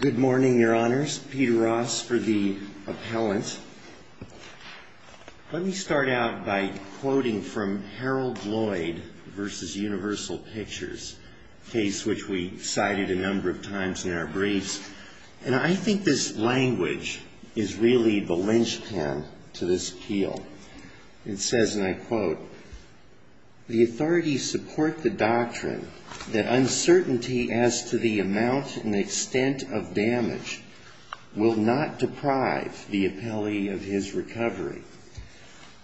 Good morning, Your Honors. Peter Ross for the appellant. Let me start out by quoting from Harold Lloyd v. Universal Pictures, a case which we cited a number of times in our briefs. I think this language is really the linchpin to this appeal. It says, and I quote, ìThe authorities support the doctrine that uncertainty as to the amount and extent of damage will not deprive the appellee of his recovery.î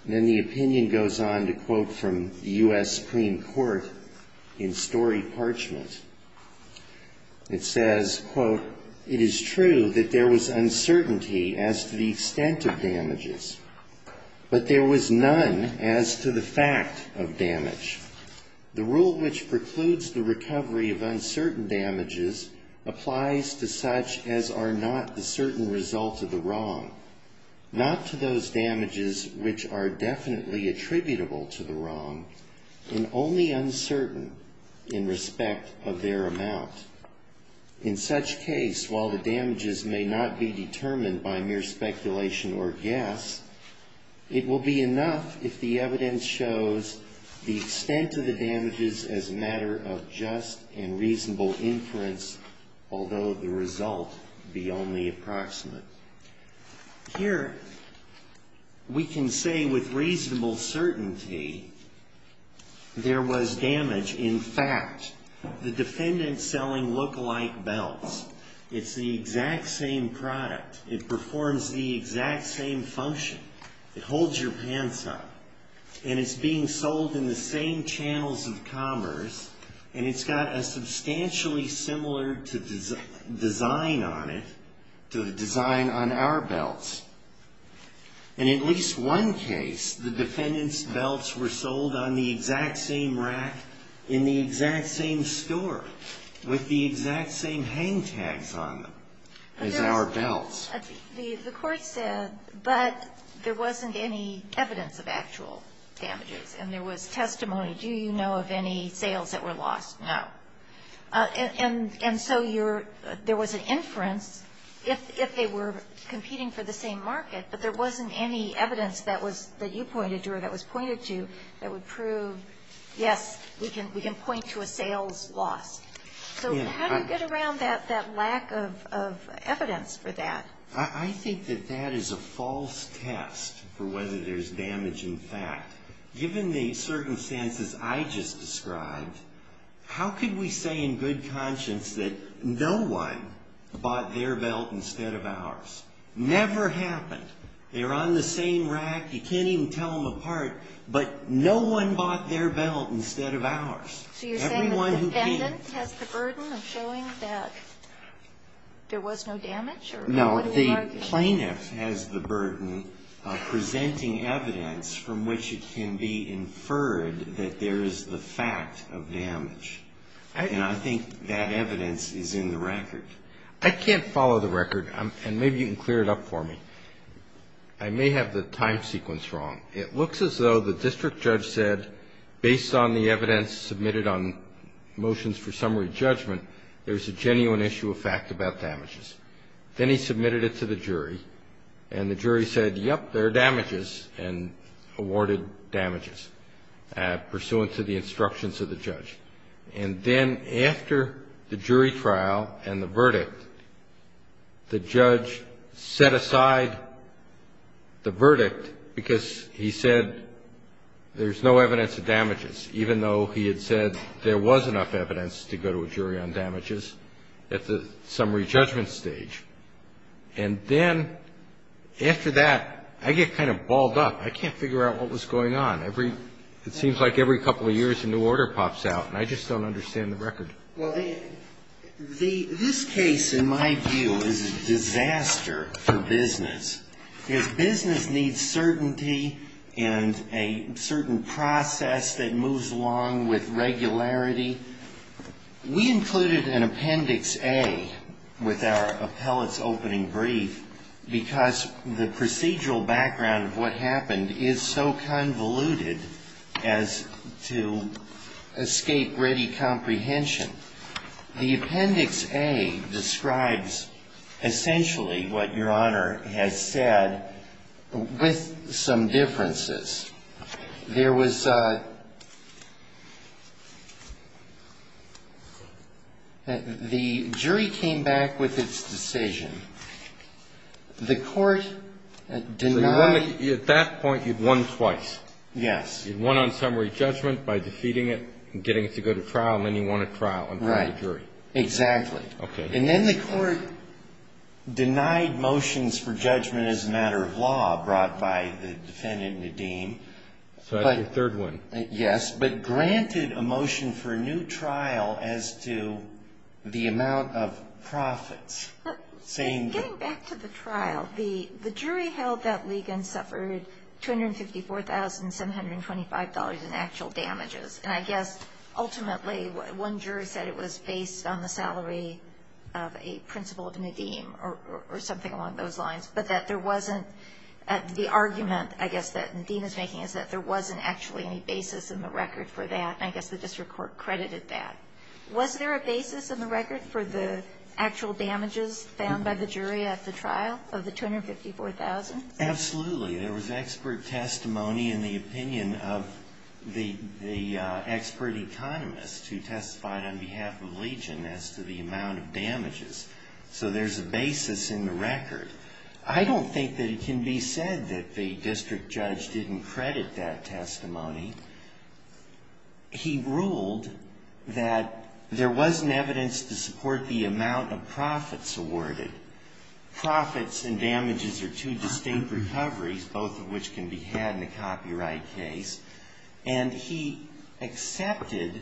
Then the opinion goes on to quote from the U.S. Supreme Court in Story Parchment. It says, ìIt is true that there was uncertainty as to the extent of damages, but there was none as to the fact of damage. The rule which precludes the recovery of uncertain damages applies to such as are not the certain result of the wrong, not to those damages which are definitely attributable to the wrong, and only uncertain in respect of their amount. In such case, while the damages may not be determined by mere speculation or guess, it will be enough if the evidence shows the extent of the damages as a matter of just and reasonable inference, although the result be only approximate.î Here we can say with reasonable certainty there was damage. In fact, the defendants selling look-alike belts. It's the exact same product. It performs the exact same function. It holds your pants up. And it's being sold in the same channels of commerce, and it's got a substantially similar design on it to the design on our belts. In at least one case, the defendant's belts were sold on the exact same rack in the exact same store with the exact same hang tags on them as our belts. The Court said, but there wasn't any evidence of actual damages, and there was testimony. Do you know of any sales that were lost? No. And so you're ñ there was an inference if they were competing for the same market, but there wasn't any evidence that was that you pointed to or that was pointed to that would prove, yes, we can point to a sales loss. So how do you get around that lack of evidence for that? I think that that is a false test for whether there's damage in fact. Given the circumstances I just described, how could we say in good conscience that no one bought their belt instead of ours? Never happened. They were on the same rack. You can't even tell them apart. But no one bought their belt instead of ours. Everyone who came. So you're saying the defendant has the burden of showing that there was no damage or that it wasn't a market issue? No. The plaintiff has the burden of presenting evidence from which it can be inferred that there is the fact of damage. And I think that evidence is in the record. I can't follow the record, and maybe you can clear it up for me. I may have the time sequence wrong. It looks as though the district judge said, based on the evidence submitted on motions for summary judgment, there's a genuine issue of fact about damages. Then he submitted it to the jury, and the jury said, yep, there are damages, and awarded damages pursuant to the instructions of the judge. And then after the jury trial and the verdict, the judge set aside the verdict because he said there's no evidence of damages, even though he had said there was enough evidence to go to a jury on damages at the summary judgment stage. And then after that, I get kind of balled up. I can't figure out what was going on. It seems like every couple of years a new order pops out, and I just don't understand the record. Well, this case, in my view, is a disaster for business. Because business needs certainty and a certain process that moves along with regularity. We included an Appendix A with our appellate's opening brief because the procedural background of what happened is so convoluted as to escape ready comprehension. The Appendix A describes essentially what Your Honor has said with some differences. There was a the jury came back with its decision. The court denied Well, at that point, you'd won twice. Yes. You'd won on summary judgment by defeating it and getting it to go to trial, and then you won a trial in front of the jury. Right. Exactly. And then the court denied motions for judgment as a matter of law brought by the defendant, Nadeem. So that's your third win. Yes. But granted a motion for a new trial as to the amount of profits. Getting back to the trial, the jury held that Ligon suffered $254,725 in actual damages. And I guess ultimately one jury said it was based on the salary of a principal of Nadeem or something along those lines. But that there wasn't the argument, I guess, that Nadeem is making is that there wasn't actually any basis in the record for that. And I guess the district court credited that. Was there a basis in the record for the actual damages found by the jury at the trial of the $254,000? Absolutely. There was expert testimony in the opinion of the expert economist who testified on behalf of Legion as to the amount of damages. So there's a basis in the record. I don't think that it can be said that the district judge didn't credit that testimony. He ruled that there wasn't evidence to support the amount of profits awarded. Profits and damages are two distinct recoveries, both of which can be had in a copyright case. And he accepted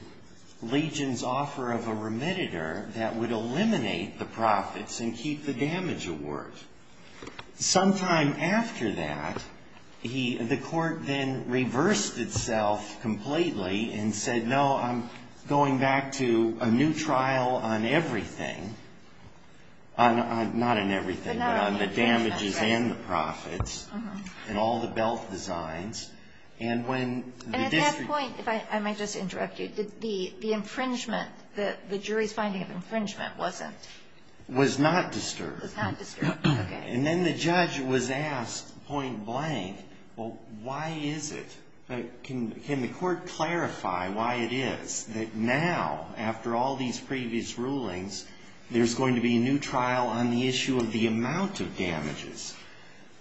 Legion's offer of a remediator that would eliminate the profits and keep the damage award. Sometime after that, the court then reversed itself completely and said, no, I'm going back to a new trial on everything. Not on everything, but on the damages and the profits and all the belt designs. And at that point, if I might just interrupt you, did the infringement, the jury's finding of infringement, wasn't disturbed? Was not disturbed. And then the judge was asked point blank, well, why is it? Can you can the court clarify why it is that now, after all these previous rulings, there's going to be a new trial on the issue of the amount of damages?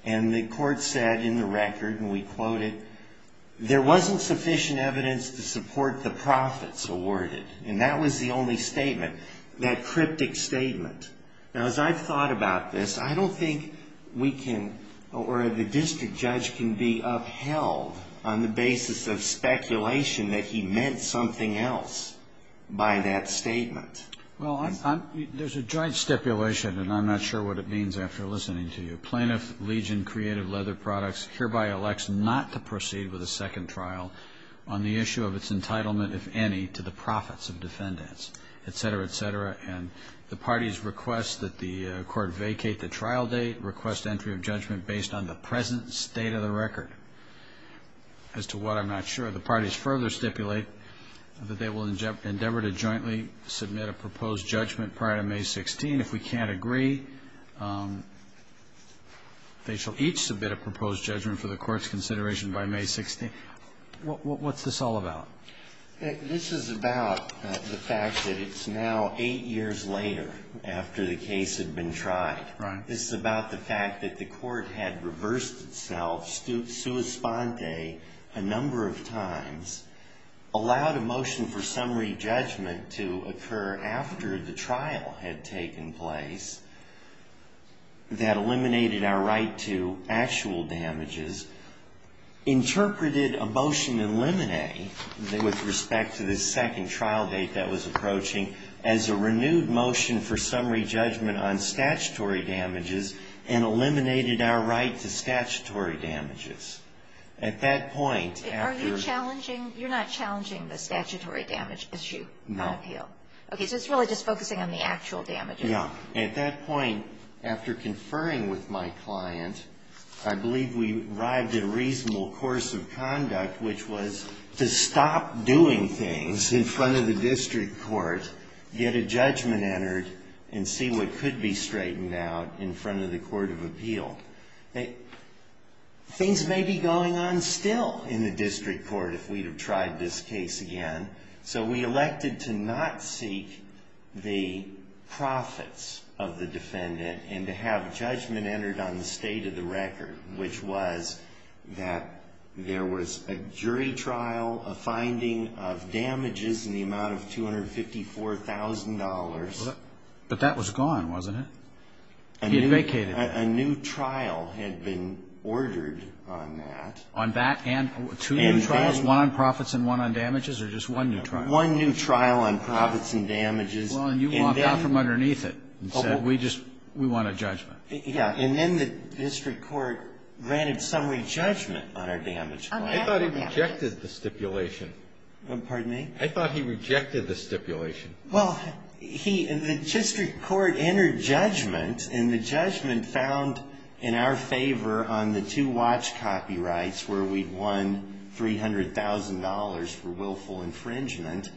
And the court said in the record, and we quoted, there wasn't sufficient evidence to support the profits awarded. And that was the only statement, that cryptic statement. Now, as I've thought about this, I don't think we can, or the district judge can be upheld on the basis of speculation that he meant something else by that statement. Well, there's a joint stipulation, and I'm not sure what it means after listening to you. Plaintiff Legion Creative Leather Products hereby elects not to proceed with a second trial on the issue of its entitlement, if any, to the profits of defendants, et cetera, et cetera. And the parties request that the court vacate the trial date, request entry of judgment based on the present state of the record. As to what, I'm not sure. The parties further stipulate that they will endeavor to jointly submit a proposed judgment prior to May 16. If we can't agree, they shall each submit a proposed judgment for the court's consideration by May 16. What's this all about? This is about the fact that it's now eight years later after the case had been tried. This is about the fact that the court had reversed itself, sua sponte, a number of times, allowed a motion for summary judgment to occur after the trial had taken place that eliminated our right to actual damages, interpreted a motion in limine with respect to this second trial date that was approaching as a renewed motion for summary judgment on statutory damages and eliminated our right to statutory damages. At that point... Are you challenging, you're not challenging the statutory damage issue? No. Okay, so it's really just focusing on the actual damages. Yeah. At that point, after conferring with my client, I believe we arrived at a reasonable course of conduct which was to stop doing things in front of the district court, get a judgment entered, and see what could be straightened out in front of the court of appeal. Things may be going on still in the district court if we'd have tried this case again, so we elected to not seek the profits of the defendant and to have there was a jury trial, a finding of damages in the amount of $254,000. But that was gone, wasn't it? He had vacated it. A new trial had been ordered on that. Two new trials, one on profits and one on damages, or just one new trial? One new trial on profits and damages. Well, and you walked out from underneath it and said, we want a judgment. Yeah, and then the district court granted summary judgment on our damages. I thought he rejected the stipulation. Pardon me? I thought he rejected the stipulation. Well, the district court entered judgment and the judgment found in our favor on the two watch copyrights where we'd won $300,000 for willful infringement.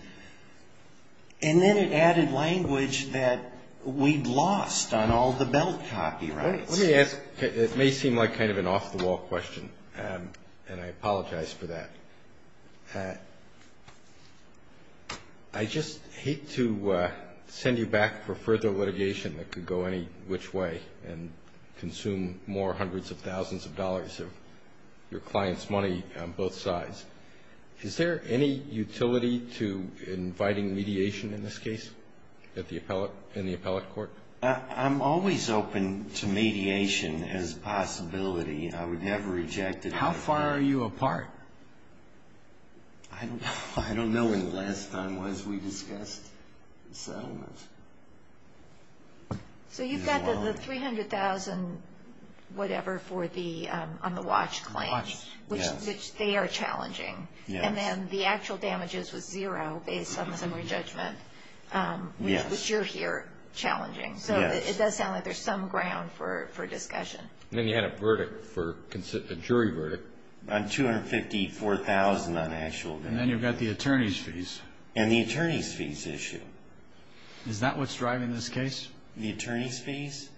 And then it added language that we'd lost on all the belt copyrights. Let me ask, it may seem like kind of an off-the-wall question, and I apologize for that. I just hate to send you back for further litigation that could go any which way and consume more hundreds of thousands of dollars of your size. Is there any utility to inviting mediation in this case in the appellate court? I'm always open to mediation as a possibility. I would never reject it. How far are you apart? I don't know when the last time was we discussed settlement. So you've got the $300,000 and whatever on the watch claims, which they are challenging. And then the actual damages was zero based on the summary judgment, which you're here challenging. So it does sound like there's some ground for discussion. And then you had a jury verdict. On $254,000 on actual damages. And then you've got the attorney's fees. And the attorney's fees issue. Is that what's driving this case? The attorney's fees?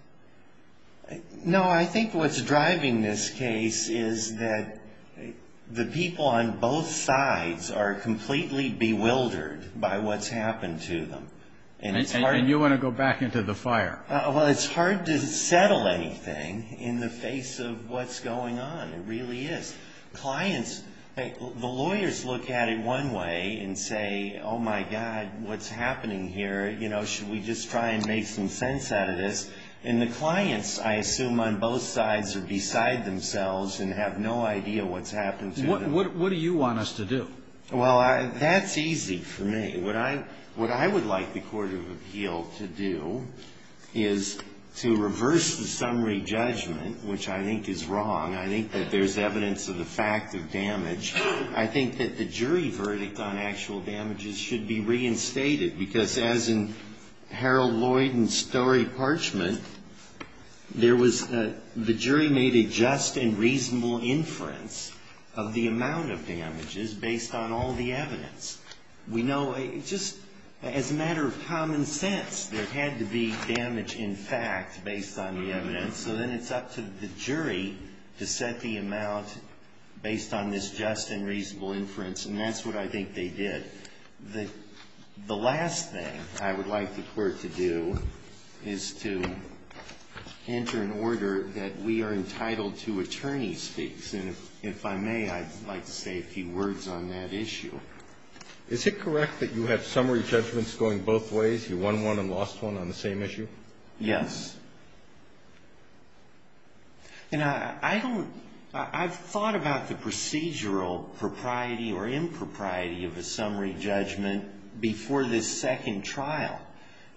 No, I think what's driving this case is that the people on both sides are completely bewildered by what's happened to them. And you want to go back into the fire. Well, it's hard to settle anything in the face of what's going on. It really is. Clients, the lawyers look at it one way and say, oh, my God, what's happening here? Should we just try and make some sense out of this? And the clients, I assume, on both sides are beside themselves and have no idea what's happened to them. What do you want us to do? Well, that's easy for me. What I would like the Court of Appeal to do is to reverse the damage. I think that the jury verdict on actual damages should be reinstated. Because as in Harold Lloyd and Story Parchment, the jury made a just and reasonable inference of the amount of damages based on all the evidence. We know, just as a matter of common sense, there had to be damage in fact based on the evidence. So then it's up to the jury to set the amount based on this just and reasonable inference. And that's what I think they did. The last thing I would like the Court to do is to enter an order that we are entitled to attorney's fees. And if I may, I'd like to say a few words on that issue. Is it correct that you have summary judgments going both ways? You won one and lost one on the same issue? Yes. You know, I don't, I've thought about the procedural propriety or impropriety of a summary judgment before this second trial.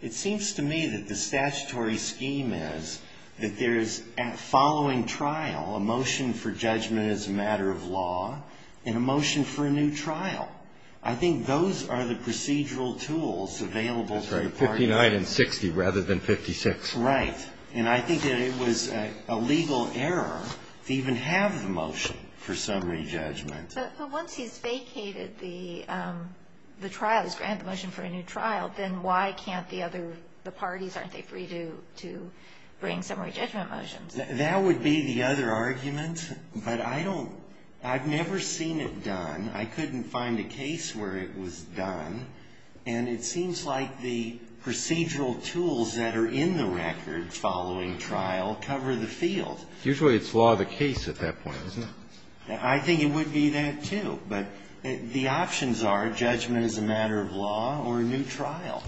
It seems to me that the statutory scheme is that there is, following trial, a motion for judgment as a matter of law and a motion for a new trial. I think those are the procedural tools available to the parties. That's right. 59 and 60 rather than 56. Right. And I think that it was a legal error to even have the motion for summary judgment. But once he's vacated the trial, he's granted the motion for a new trial, then why can't the other, the parties, aren't they free to bring summary judgment motions? That would be the other argument. But I don't, I've never seen it done. I couldn't find a case where it was done. And it seems like the procedural tools that are in the record following trial cover the field. Usually it's law of the case at that point, isn't it? I think it would be that too. But the options are judgment as a matter of law or a new trial.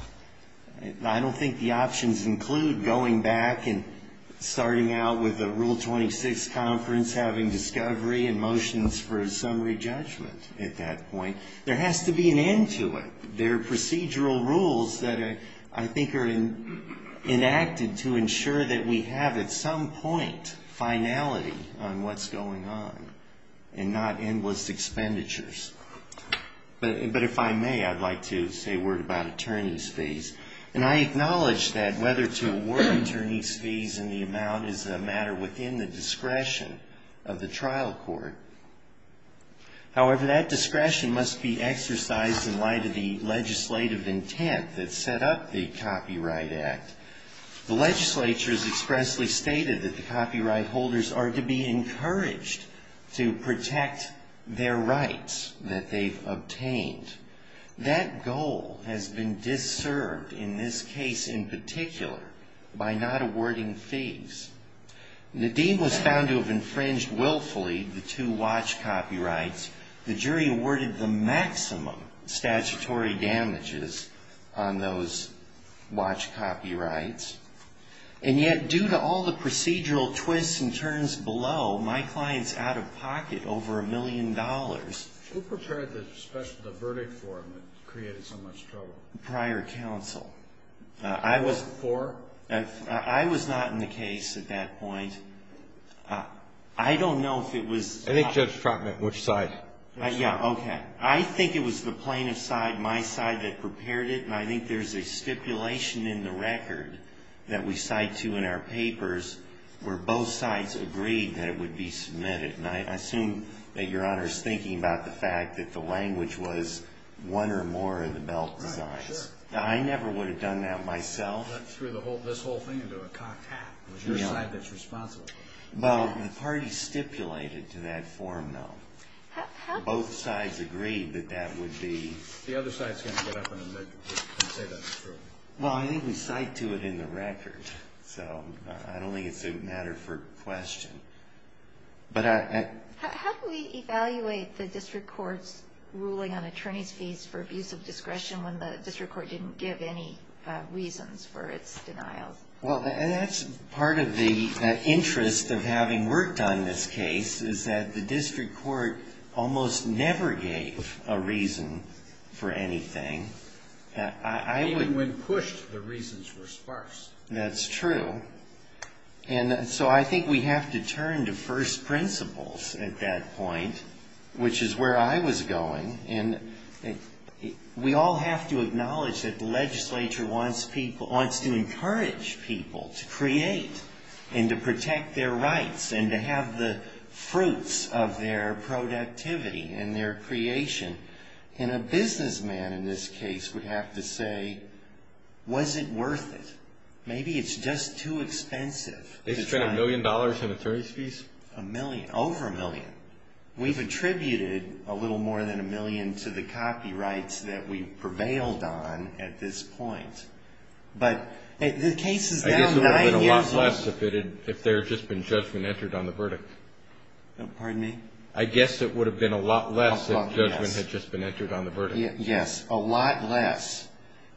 I don't think the options include going back and starting out with a Rule 26 conference, having discovery and motions for a summary judgment at that point. There has to be an end to it. There are procedural rules that I think are enacted to ensure that we have at some point finality on what's going on and not endless expenditures. But if I may, I'd like to say a word about attorney's fees. And I acknowledge that whether to award attorney's fees in the amount is a matter within the discretion of the trial court. However, that discretion must be exercised in light of the legislative intent that set up the Copyright Act. The legislature has expressly stated that the copyright holders are to be compensated for the costs that they've obtained. That goal has been disturbed in this case in particular by not awarding fees. Nadine was found to have infringed willfully the two watch copyrights. The jury awarded the maximum statutory damages on those watch copyrights. And yet due to all the procedural twists and turns below, my client's out of pocket over a million dollars. Who prepared the verdict for him that created so much trouble? Prior counsel. I was not in the case at that point. I don't know if it was. I think Judge Trotman, which side? I think it was the plaintiff's side, my side, that prepared it. And I think there's a stipulation in the record that we cite to in our papers where both sides agreed that it would be submitted. And I assume that Your Honor's thinking about the fact that the language was one or more of the belt designs. I never would have done that myself. You threw this whole thing into a cocked hat. It was your side that's responsible. The party stipulated to that form, though. Both sides agreed that that would be. The other side's going to get up and say that's true. Well, I think we cite to it in the record. So I don't think it's a matter for question. How do we evaluate the district court's ruling on attorney's fees for abuse of discretion when the district court didn't give any reasons for its denial? Well, that's part of the interest of having worked on this case is that the district court almost never gave a reason for anything. Even when pushed, the reasons were sparse. That's true. And so I think we have to turn to first principles at that point, which is where I was going. And we all have to acknowledge that the legislature wants people to create and to protect their rights and to have the fruits of their productivity and their creation. And a businessman in this case would have to say, was it worth it? Maybe it's just too expensive. They spent a million dollars on attorney's fees? A million, over a million. We've attributed a little more than a million to the copyrights that we have. I guess it would have been a lot less if there had just been judgment entered on the verdict. Pardon me? I guess it would have been a lot less if judgment had just been entered on the verdict. Yes, a lot less.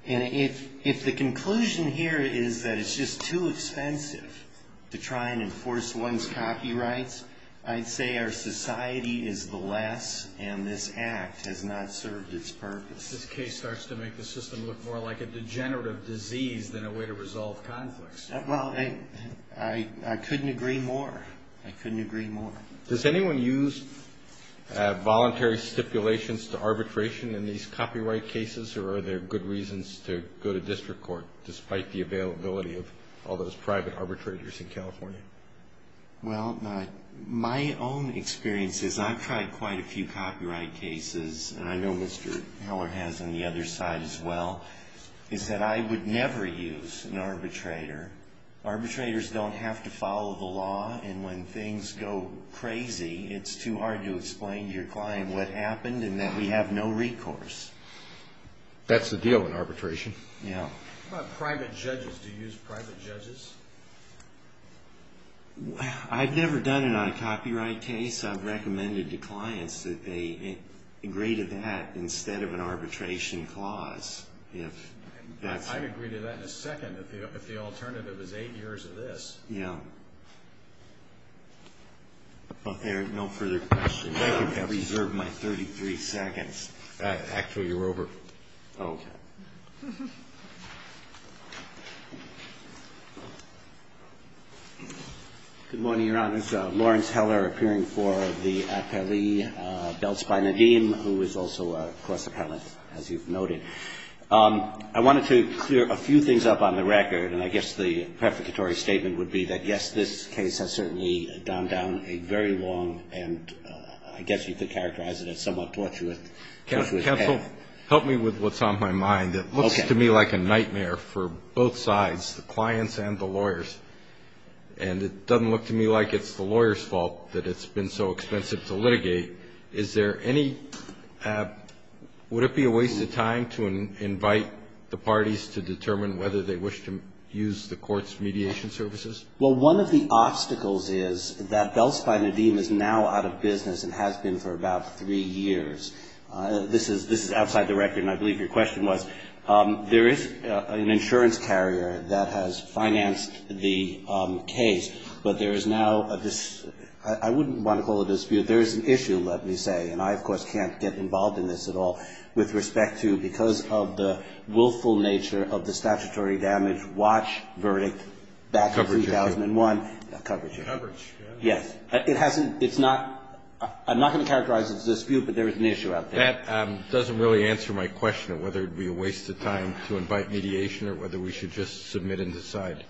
And if the conclusion here is that it's just too expensive to try and enforce one's copyrights, I'd say our society is the less and this act has not served its purpose. This case starts to make the system look more like a degenerative disease than a way to resolve conflicts. Well, I couldn't agree more. I couldn't agree more. Does anyone use voluntary stipulations to arbitration in these copyright cases or are there good reasons to go to district court despite the availability of all those private arbitrators in California? Well, my own experiences, I've tried quite a few copyright cases and I know Mr. Heller has on the other side as well, is that I would never use an arbitrator. Arbitrators don't have to follow the law and when things go crazy, it's too hard to explain to your client what happened and that we have no recourse. That's the deal in arbitration. How about private judges? Do you use private judges? I've never done it on a copyright case. I've recommended to clients that they agree to that instead of an arbitration clause. I'd agree to that in a second if the alternative is eight years of this. No further questions. I reserve my 33 seconds. Actually, you're over. Good morning, Your Honors. Lawrence Heller appearing for the appellee, Belts by Nadim, who is also a class appellant, as you've noted. I wanted to clear a few things up on the record and I guess the prefiguratory statement would be that, yes, this case has certainly done down a very long and I guess you could characterize it as somewhat tortuous. Counsel, help me with what's on my mind. It looks to me like a nightmare for both sides, the clients and the lawyers. And it doesn't look to me like it's the lawyer's fault that it's been so expensive to litigate. Is there any would it be a waste of time to invite the parties to determine whether they wish to use the court's mediation services? Well, one of the obstacles is that Belts by Nadim is now out of business and has been for about three years. This is outside the record, and I believe your question was, there is an insurance carrier that has financed the case, but there is now a I wouldn't want to call it a dispute. There is an issue, let me say, and I, of course, can't get involved in this at all, with respect to because of the coverage. Yes. It hasn't it's not I'm not going to characterize it as a dispute, but there is an issue out there. That doesn't really answer my question of whether it'd be a waste of time to invite mediation or whether we should just submit and decide.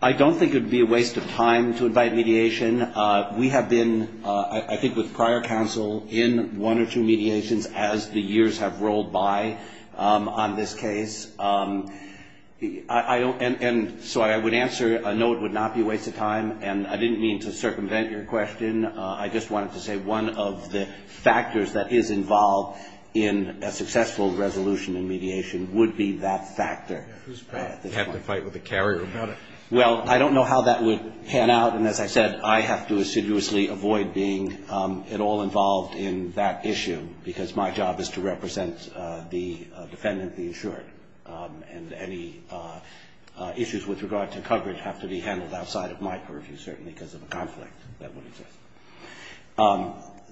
I don't think it would be a waste of time to invite mediation. We have been, I think, with prior counsel in one or two mediations as the years have rolled by on this case. And so I would answer, no, it would not be a waste of time. And I didn't mean to circumvent your question. I just wanted to say one of the factors that is involved in a successful resolution and mediation would be that factor. You'd have to fight with the carrier about it. Well, I don't know how that would pan out, and as I said, I have to assiduously avoid being at all involved in that and any issues with regard to coverage have to be handled outside of my purview, certainly because of a conflict that would exist.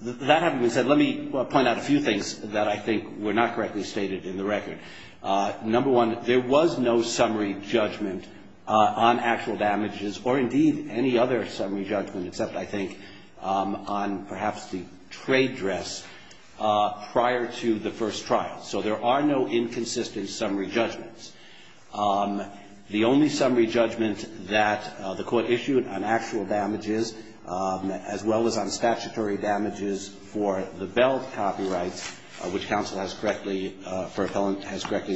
That having been said, let me point out a few things that I think were not correctly stated in the record. Number one, there was no summary judgment on actual damages or indeed any other summary judgment except, I think, on perhaps the trade dress prior to the first trial. So there are no inconsistent summary judgments. The only summary judgment that the Court issued on actual damages, as well as on statutory damages for the Bell copyrights, which counsel has correctly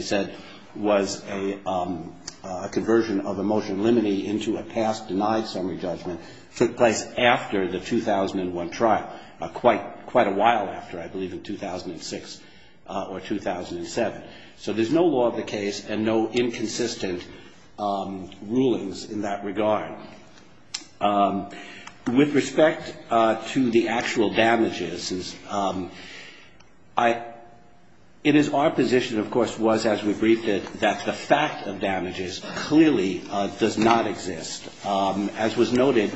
said was a conversion of a motion limiting into a past denied summary judgment, took place after the 2001 trial, quite a while after, I believe, in 2006 or 2007. So there's no law of the case and no inconsistent rulings in that regard. With respect to the actual damages, it is our position, of course, was, as we briefed it, that the fact of damages clearly does not exist. As was noted,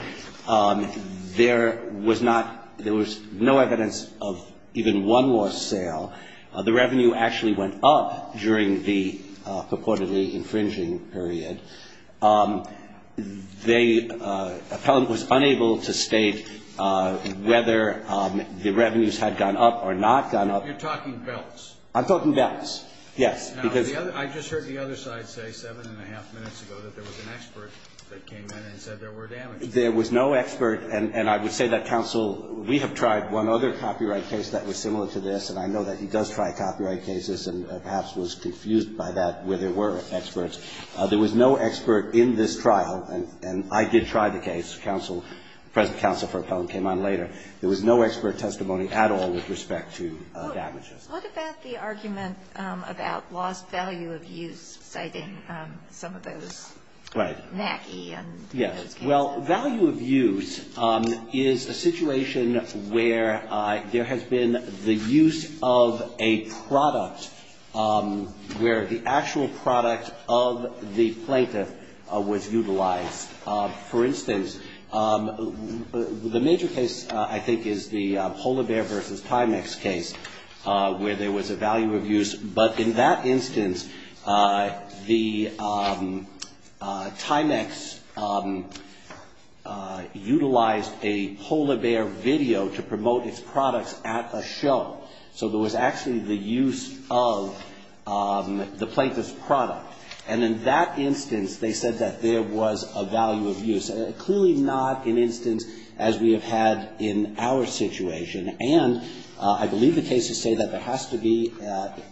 there was not, there was no evidence of even one loss sale. The revenue actually went up during the purportedly infringing period. They, Appellant was unable to state whether the revenues had gone up or not gone up. I'm talking belts. Yes. There was no expert, and I would say that counsel, we have tried one other copyright case that was similar to this, and I know that he does try copyright cases and perhaps was confused by that where there were experts. There was no expert in this trial, and I did try the case. Counsel, the present counsel for Appellant came on later. There was no expert testimony at all with respect to damages. What about the argument about lost value of use, citing some of those NACI and those cases? Yes. Well, value of use is a situation where there has been the use of a product where the actual product of the plaintiff was utilized. For instance, the major case, I think, is the polar bear versus Timex case where there was a value of use, but in that instance, the Timex utilized a polar bear video to promote its products at a show. So there was actually the use of the plaintiff's product. And in that instance, they said that there was a value of use. And clearly not an instance as we have had in our situation. And I believe the cases say that there has to be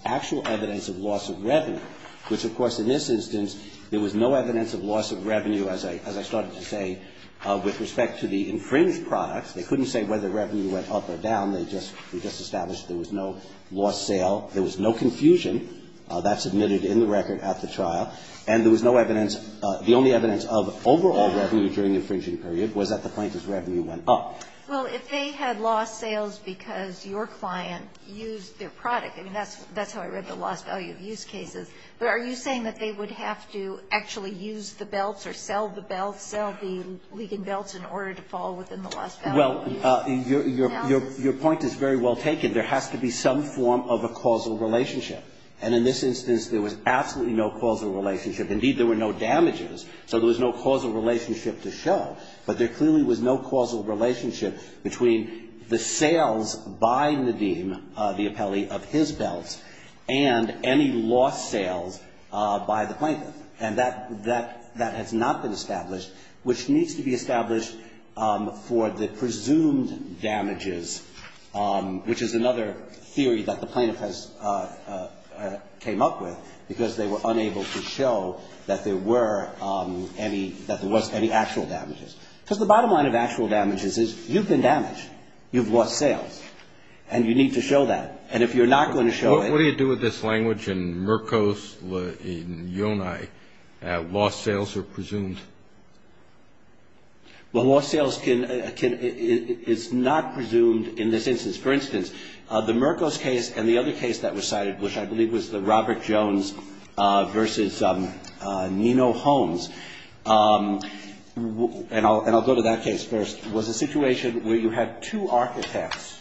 actual evidence of loss of revenue, which, of course, in this instance, there was no evidence of loss of revenue, as I started to say, with respect to the infringed products. They couldn't say whether revenue went up or down. They just established there was no lost sale. There was no confusion. That's admitted in the record at the trial. And there was no evidence, the only evidence of overall revenue during the infringing period was that the plaintiff's revenue went up. Well, if they had lost sales because your client used their product, I mean, that's how I read the loss value of use cases. But are you saying that they would have to actually use the belts or sell the belts, sell the Ligon belts in order to fall within the loss value of use? Well, your point is very well taken. There has to be some form of a causal relationship. And in this instance, there was absolutely no causal relationship. Indeed, there were no damages, so there was no causal relationship to show. But there clearly was no causal relationship between the sales by Nadeem, the appellee, of his belts and any lost sales by the plaintiff. And that has not been established, which needs to be established for the presumed damages, which is another theory that the plaintiff has came up with because they were unable to show that there were any, that there was any actual damages. Because the bottom line of actual damages is you've been damaged. You've lost sales. And you need to show that. And if you're not going to show it What do you do with this language in Mercos in Yonai? Lost sales are Well, lost sales can, is not presumed in this instance. For instance, the Mercos case and the other case that was cited, which I believe was the Robert Jones versus Nino Holmes, and I'll go to that case first, was a situation where you had two architects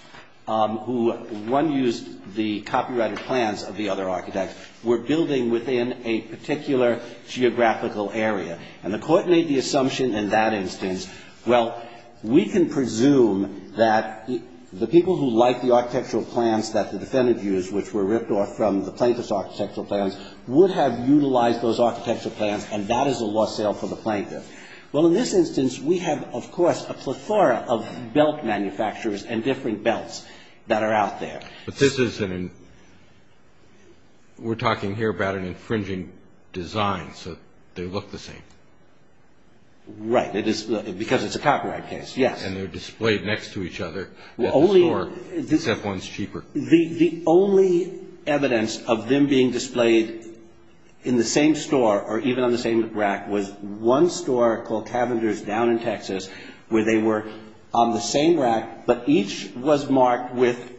who, one used the copyrighted plans of the other architect, were building within a particular geographical area. And the court made the assumption in that instance, well, we can presume that the people who like the architectural plans that the defendant used, which were ripped off from the plaintiff's architectural plans, would have utilized those architectural plans, and that is a lost sale for the plaintiff. Well, in this instance, we have, of course, a plethora of belt manufacturers and different belts that are out there. We're talking here about an infringing design, so they look the same. Right, because it's a copyright case, yes. And they're displayed next to each other at the store, except one's cheaper. The only evidence of them being displayed in the same store, or even on the same rack, was one store called Cavendish down in Texas, where they were on the same rack, but each was marked with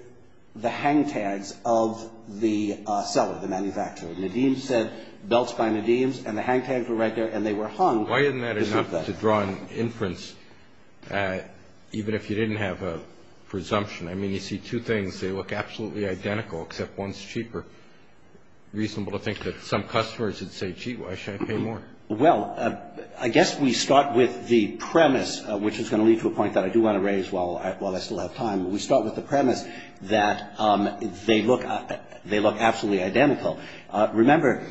the hang tags of the seller, the manufacturer. Nadim said, belts by Nadim's, and the hang tags were right there, and they were hung. Why isn't that enough to draw an inference, even if you didn't have a presumption? I mean, you see two things, they look absolutely identical, except one's cheaper. Is it reasonable to think that some customers would say, gee, why should I pay more? Well, I guess we start with the premise, which is going to lead to a point that I do want to raise while I still have time. We start with the premise that they look absolutely identical. Remember,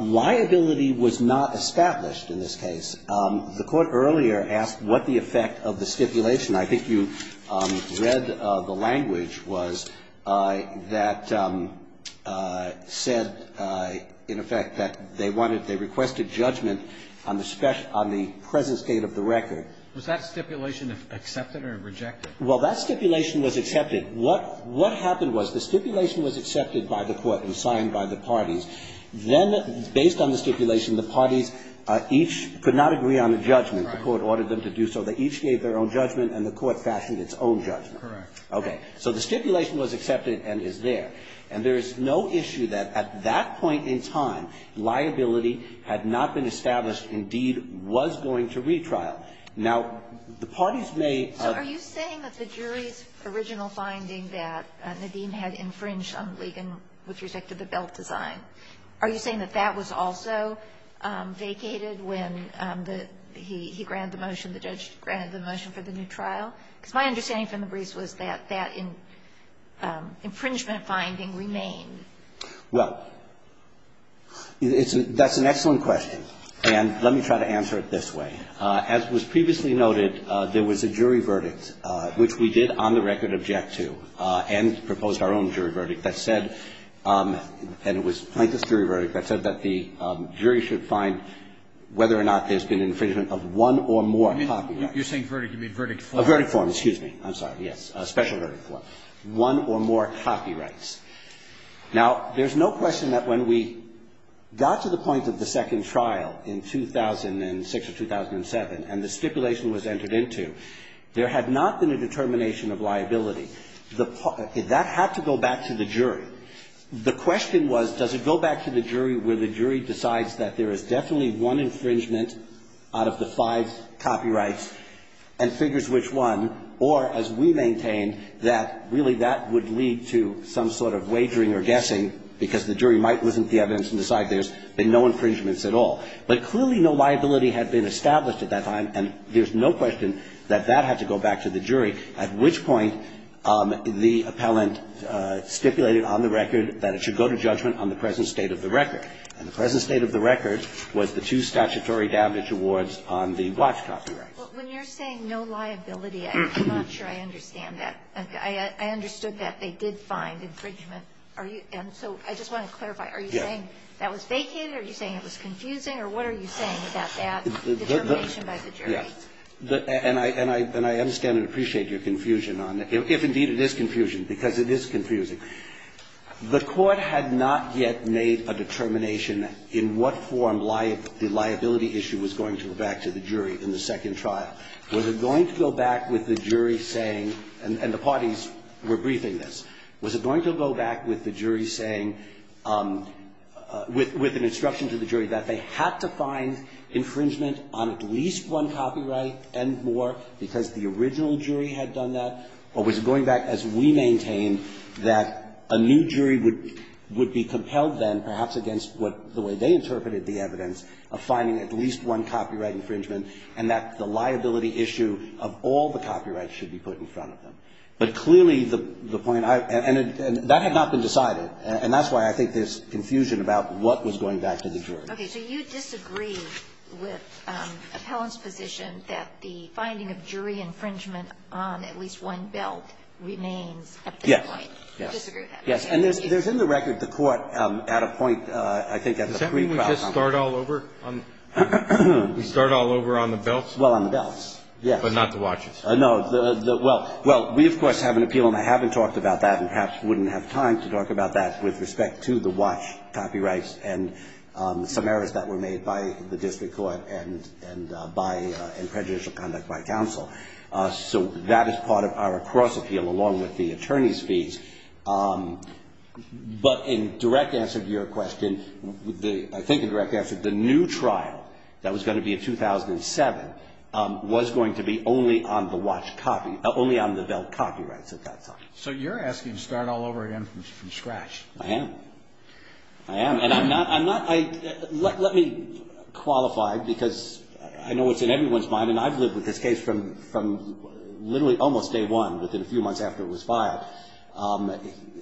liability was not established in this case. The Court earlier asked what the effect of the stipulation. I think you read the language was that said, in effect, that they wanted, they requested judgment on the presence date of the record. Was that stipulation accepted or rejected? Well, that stipulation was accepted. What happened was the stipulation was accepted by the Court and signed by the parties. Then, based on the stipulation, the parties each could not agree on a judgment. The Court ordered them to do so. They each gave their own judgment, and the Court fashioned its own judgment. Correct. Okay. So the stipulation was accepted and is there. And there is no issue that at that point in time, liability had not been established and deed was going to retrial. Now, the parties may ---- So are you saying that the jury's original finding that Nadine had infringed on Ligon with respect to the belt design, are you saying that that was also vacated when he granted the motion, the judge granted the motion for the new trial? Because my understanding from the briefs was that that infringement finding remained. Well, that's an excellent question. And let me try to answer it this way. As was previously noted, there was a jury verdict, which we did on the record of Jack 2, and proposed our own jury verdict that said, and it was Plaintiff's jury verdict, that said that the jury should find whether or not there's been infringement of one or more copyrights. You're saying verdict. You mean verdict form. A verdict form, excuse me. I'm sorry. Yes. A special verdict form. One or more copyrights. Now, there's no question that when we got to the point of the second trial in 2006 or 2007 and the stipulation was entered into, there had not been a determination of liability. That had to go back to the jury. The question was, does it go back to the jury where the jury decides that there is definitely one infringement out of the five copyrights and figures which one, or, as we maintain, that really that would lead to some sort of wagering or guessing, because the jury might listen to the evidence and decide there's been no infringements at all. But clearly no liability had been established at that time, and there's no question that that had to go back to the jury, at which point the appellant stipulated on the record that it should go to judgment on the present state of the record. And the present state of the record was the two statutory damage awards on the watch copyrights. Well, when you're saying no liability, I'm not sure I understand that. I understood that they did find infringement. And so I just want to clarify. Are you saying that was vacant? Are you saying it was confusing? Or what are you saying about that determination by the jury? Yes. And I understand and appreciate your confusion on that, if indeed it is confusion, because it is confusing. The court had not yet made a determination in what form the liability issue was going to go back to the jury in the second trial. Was it going to go back with the jury saying, and the parties were briefing this, was it going to go back with the jury saying, with an instruction to the jury, that they had to find infringement on at least one copyright and more, because the original jury had done that? Or was it going back, as we maintained, that a new jury would be compelled then, perhaps against what the way they interpreted the evidence, of finding at least one copyright infringement, and that the liability issue of all the copyrights should be put in front of them? But clearly, the point I – and that had not been decided. And that's why I think there's confusion about what was going back to the jury. Okay. So you disagree with Appellant's position that the finding of jury infringement on at least one belt remains at this point? Yes. You disagree with that? Yes. And there's in the record the court at a point, I think, at the pre-trial time. Does that mean we just start all over? We start all over on the belts? Well, on the belts, yes. But not the watches? No. Well, we, of course, have an appeal, and I haven't talked about that, and perhaps wouldn't have time to talk about that, with respect to the watch copyrights and some errors that were made by the district court and prejudicial conduct by counsel. So that is part of our cross-appeal, along with the attorney's fees. But in direct answer to your question, I think in direct answer, the new trial that was going to be in 2007 was going to be only on the watch copy – only on the belt copyrights at that time. So you're asking to start all over again from scratch. I am. I am. And I'm not – let me qualify, because I know it's in everyone's mind, and I've lived with this case from literally almost day one, within a few months after it was filed.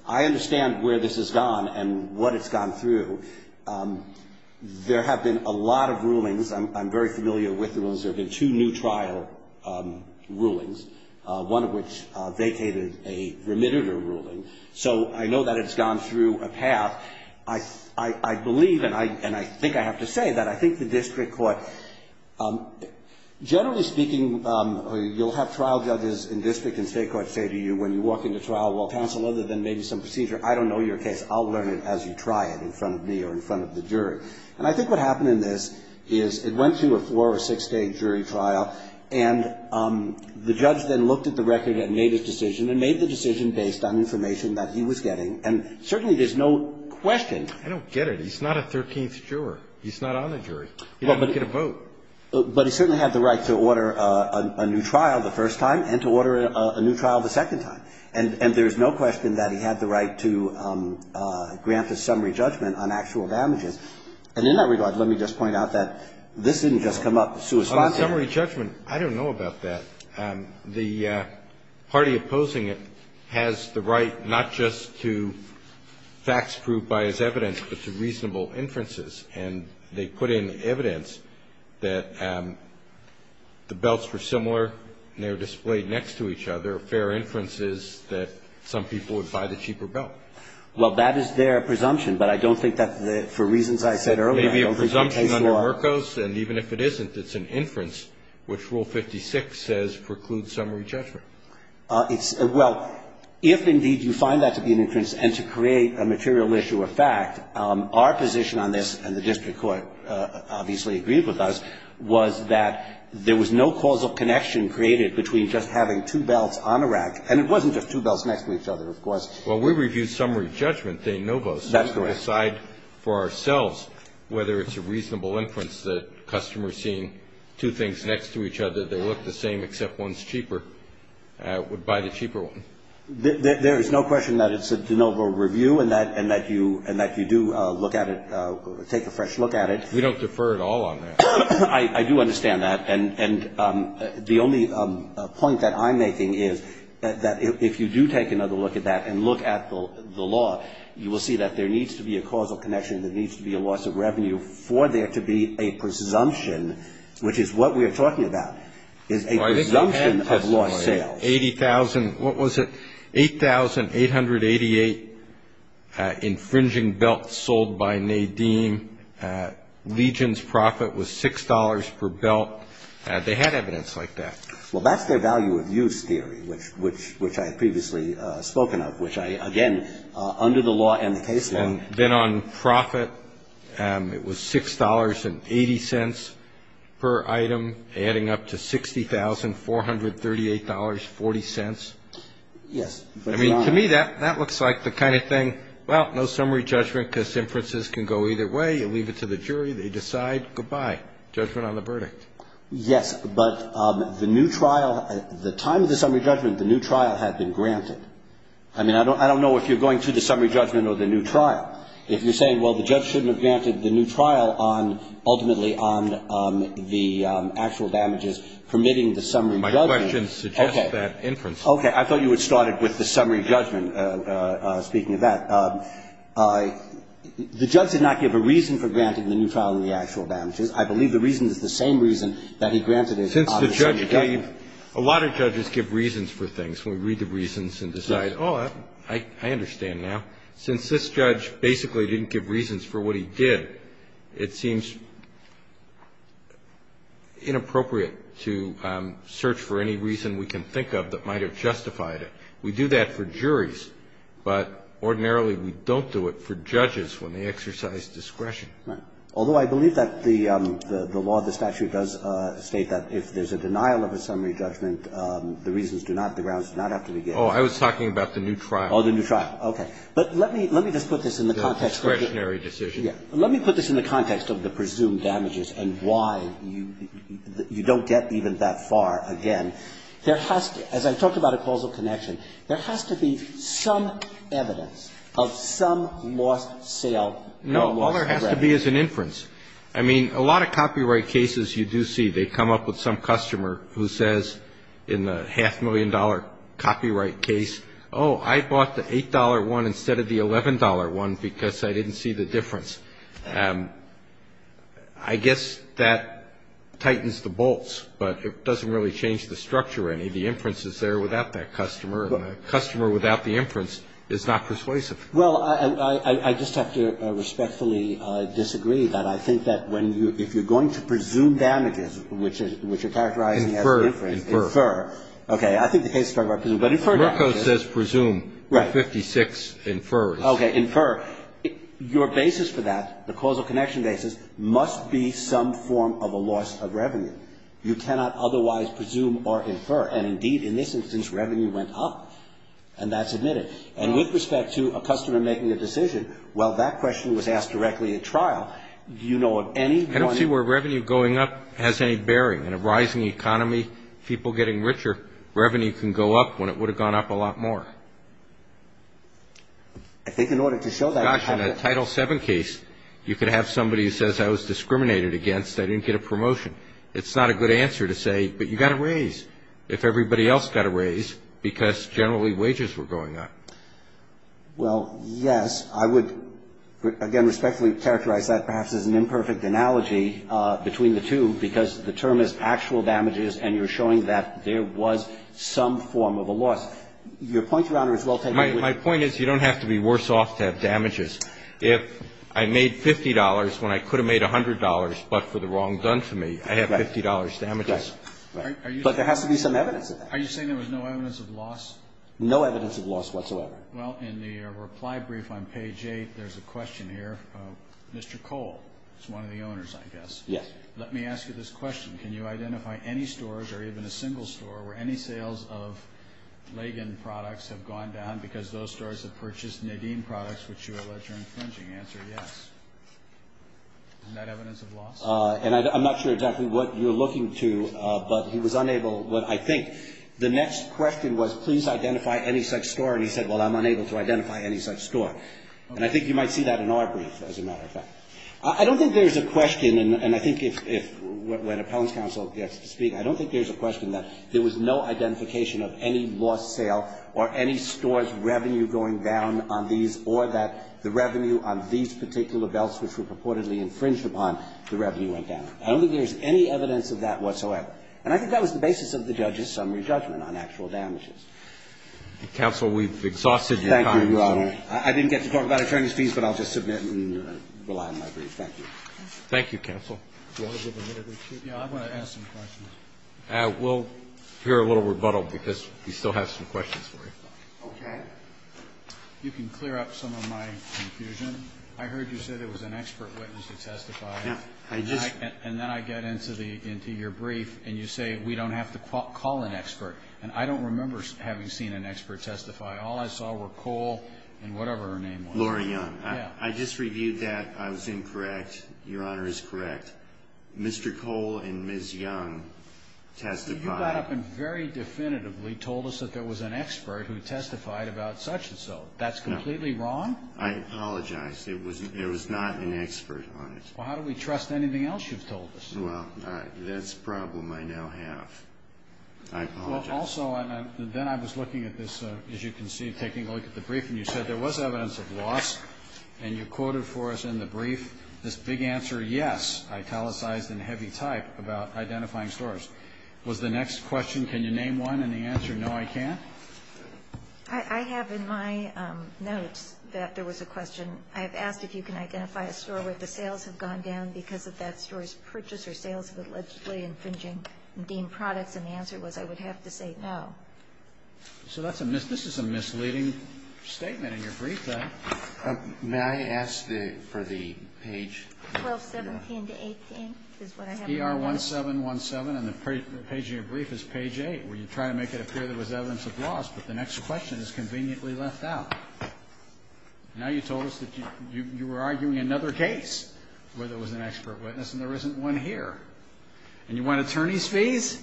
I understand where this has gone and what it's gone through. There have been a lot of rulings. I'm very familiar with the rulings. There have been two new trial rulings, one of which vacated a remitter ruling. So I know that it's gone through a path. I believe, and I think I have to say, that I think the district court – generally speaking, you'll have trial judges in district and state courts say to you, when you walk into trial, well, counsel, other than maybe some procedure, I don't know your case. I'll learn it as you try it in front of me or in front of the jury. And I think what happened in this is it went through a four- or six-day jury trial, and the judge then looked at the record and made his decision and made the decision based on information that he was getting. And certainly there's no question. I don't get it. He's not a 13th juror. He's not on the jury. He didn't get a vote. But he certainly had the right to order a new trial the first time and to order a new trial the second time. And there's no question that he had the right to grant a summary judgment on actual damages. And in that regard, let me just point out that this didn't just come up suspended. On the summary judgment, I don't know about that. The party opposing it has the right not just to fax proof by its evidence, but to reasonable inferences. And they put in evidence that the belts were similar and they were displayed next to each other. Fair inference is that some people would buy the cheaper belt. Well, that is their presumption, but I don't think that for reasons I said earlier I don't think they saw. It may be a presumption under Merkos, and even if it isn't, it's an inference, which Rule 56 says precludes summary judgment. Well, if indeed you find that to be an inference and to create a material issue of fact, our position on this, and the district court obviously agreed with us, was that there was no causal connection created between just having two belts on a rack and it wasn't just two belts next to each other, of course. Well, we review summary judgment, de novo. That's correct. So we decide for ourselves whether it's a reasonable inference that customers seeing two things next to each other, they look the same except one's cheaper, would buy the cheaper one. There is no question that it's a de novo review and that you do look at it, take a fresh look at it. We don't defer at all on that. I do understand that. And the only point that I'm making is that if you do take another look at that and look at the law, you will see that there needs to be a causal connection, there needs to be a loss of revenue for there to be a presumption, which is what we are talking about, is a presumption of lost sales. What was it? $8,888 infringing belt sold by Nadine. Legion's profit was $6 per belt. They had evidence like that. Well, that's their value of use theory, which I had previously spoken of, which I, again, under the law and the case law. And then on profit, it was $6.80 per item, adding up to $60,438.40. Yes. I mean, to me, that looks like the kind of thing, well, no summary judgment because inferences can go either way. You leave it to the jury. They decide. Goodbye. Judgment on the verdict. Yes, but the new trial, the time of the summary judgment, the new trial had been granted. I mean, I don't know if you're going to the summary judgment or the new trial. If you're saying, well, the judge shouldn't have granted the new trial on ultimately on the actual damages permitting the summary judgment. My question suggests that inference. Okay. I thought you had started with the summary judgment, speaking of that. The judge did not give a reason for granting the new trial and the actual damages. I believe the reason is the same reason that he granted it on the summary judgment. I believe a lot of judges give reasons for things when we read the reasons and decide, oh, I understand now. Since this judge basically didn't give reasons for what he did, it seems inappropriate to search for any reason we can think of that might have justified it. We do that for juries, but ordinarily we don't do it for judges when they exercise discretion. Right. Although I believe that the law, the statute does state that if there's a denial of a summary judgment, the reasons do not, the grounds do not have to be given. Oh, I was talking about the new trial. Oh, the new trial. Okay. But let me just put this in the context of the presumed damages and why you don't get even that far again. There has to be, as I talked about a causal connection, there has to be some evidence of some lost sale. No, all there has to be is an inference. I mean, a lot of copyright cases you do see, they come up with some customer who says in the half-million-dollar copyright case, oh, I bought the $8 one instead of the $11 one because I didn't see the difference. I guess that tightens the bolts, but it doesn't really change the structure any. The inference is there without that customer, and the customer without the inference is not persuasive. Well, I just have to respectfully disagree that I think that when you, if you're going to presume damages, which is, which you're characterizing as an inference. Infer. Infer. Okay. I think the case is struck by presumption. But infer damages. Murco says presume. Right. And 56 infers. Okay. Infer. Your basis for that, the causal connection basis, must be some form of a loss of revenue. You cannot otherwise presume or infer. And, indeed, in this instance, revenue went up, and that's admitted. And with respect to a customer making a decision, well, that question was asked directly at trial. Do you know of any? I don't see where revenue going up has any bearing. In a rising economy, people getting richer, revenue can go up when it would have gone up a lot more. I think in order to show that. Gosh, in a Title VII case, you could have somebody who says, I was discriminated against. I didn't get a promotion. It's not a good answer to say, but you got to raise if everybody else got to Well, yes. I would, again, respectfully characterize that perhaps as an imperfect analogy between the two, because the term is actual damages, and you're showing that there was some form of a loss. Your point, Your Honor, is well taken. My point is you don't have to be worse off to have damages. If I made $50 when I could have made $100, but for the wrong done to me, I have $50 damages. But there has to be some evidence. Are you saying there was no evidence of loss? No evidence of loss whatsoever. Well, in the reply brief on page 8, there's a question here. Mr. Cole is one of the owners, I guess. Yes. Let me ask you this question. Can you identify any stores or even a single store where any sales of Lagan products have gone down because those stores have purchased Nadine products, which you allege are infringing? Answer yes. Is that evidence of loss? And I'm not sure exactly what you're looking to, but he was unable. Well, I think the next question was please identify any such store, and he said, well, I'm unable to identify any such store. And I think you might see that in our brief, as a matter of fact. I don't think there's a question, and I think if when appellant's counsel gets to speak, I don't think there's a question that there was no identification of any lost sale or any store's revenue going down on these or that the revenue on these particular belts, which were purportedly infringed upon, the revenue went down. I don't think there's any evidence of that whatsoever. And I think that was the basis of the judge's summary judgment on actual damages. Counsel, we've exhausted your time. Thank you, Your Honor. I didn't get to talk about attorney's fees, but I'll just submit and rely on my brief. Thank you. Thank you, counsel. I want to ask some questions. We'll hear a little rebuttal because we still have some questions for you. Okay. You can clear up some of my confusion. I heard you say there was an expert witness that testified. Yes. And then I get into your brief, and you say we don't have to call an expert. And I don't remember having seen an expert testify. All I saw were Cole and whatever her name was. Laura Young. Yes. I just reviewed that. I was incorrect. Your Honor is correct. Mr. Cole and Ms. Young testified. You got up and very definitively told us that there was an expert who testified about such and so. That's completely wrong? No. I apologize. There was not an expert on it. Well, how do we trust anything else you've told us? Well, that's a problem I now have. I apologize. Also, then I was looking at this, as you can see, taking a look at the brief, and you said there was evidence of loss, and you quoted for us in the brief this big answer, yes, italicized in heavy type about identifying stores. Was the next question, can you name one, and the answer, no, I can't? I have in my notes that there was a question. I have asked if you can identify a store where the sales have gone down because of that store's purchase or sales of allegedly infringing deemed products, and the answer was I would have to say no. So this is a misleading statement in your brief, then. May I ask for the page? 1217 to 18 is what I have in my notes. ER1717, and the page in your brief is page 8, where you try to make it appear there was evidence of loss, but the next question is conveniently left out. Now you told us that you were arguing another case where there was an expert witness, and there isn't one here. And you want attorney's fees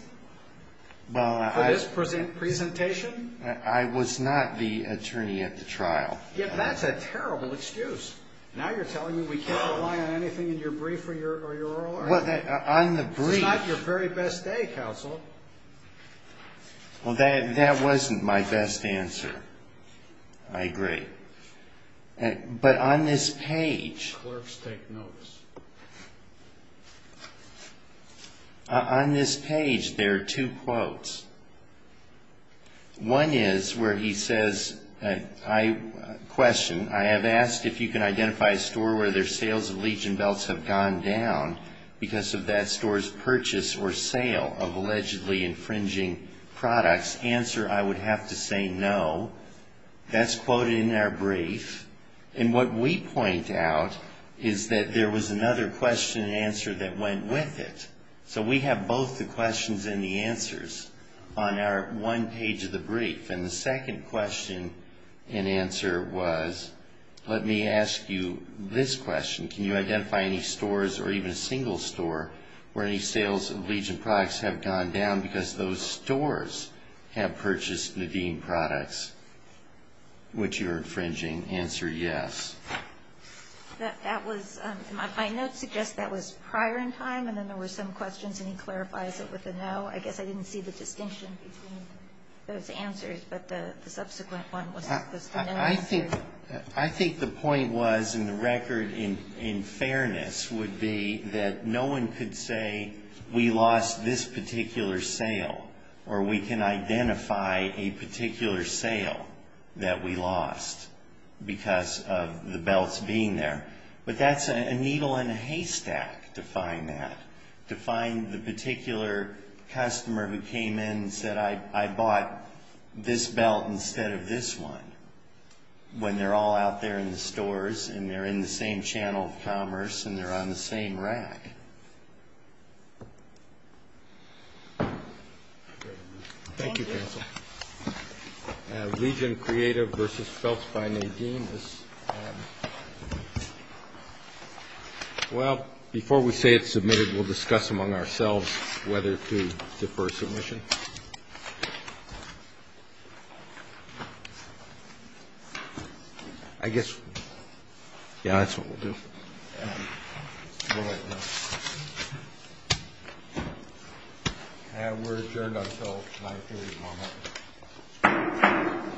for this presentation? I was not the attorney at the trial. That's a terrible excuse. Now you're telling me we can't rely on anything in your brief or your oral argument. This is not your very best day, counsel. Well, that wasn't my best answer. I agree. But on this page, there are two quotes. One is where he says, question, I have asked if you can identify a store where their sales of legion belts have gone down because of that store's purchase or sale of allegedly infringing products. Answer, I would have to say no. That's quoted in our brief. And what we point out is that there was another question and answer that went with it. So we have both the questions and the answers on our one page of the brief. And the second question and answer was, let me ask you this question. Can you identify any stores, or even a single store, where any sales of legion products have gone down because those stores have purchased Nadine products, which you're infringing? Answer, yes. My notes suggest that was prior in time and then there were some questions and he clarifies it with a no. I guess I didn't see the distinction between those answers, but the subsequent one was the no answer. I think the point was, and the record in fairness would be, that no one could say we lost this particular sale or we can identify a particular sale that we lost because of the belts being there. But that's a needle in a haystack to find that, to find the particular customer who came in and said, I bought this belt instead of this one, when they're all out there in the stores and they're in the same channel of commerce and they're on the same rack. Thank you, counsel. Legion Creative versus Belts by Nadine. Well, before we say it's submitted, we'll discuss among ourselves whether to defer submission. I guess, yeah, that's what we'll do. We're adjourned until 930 tomorrow morning.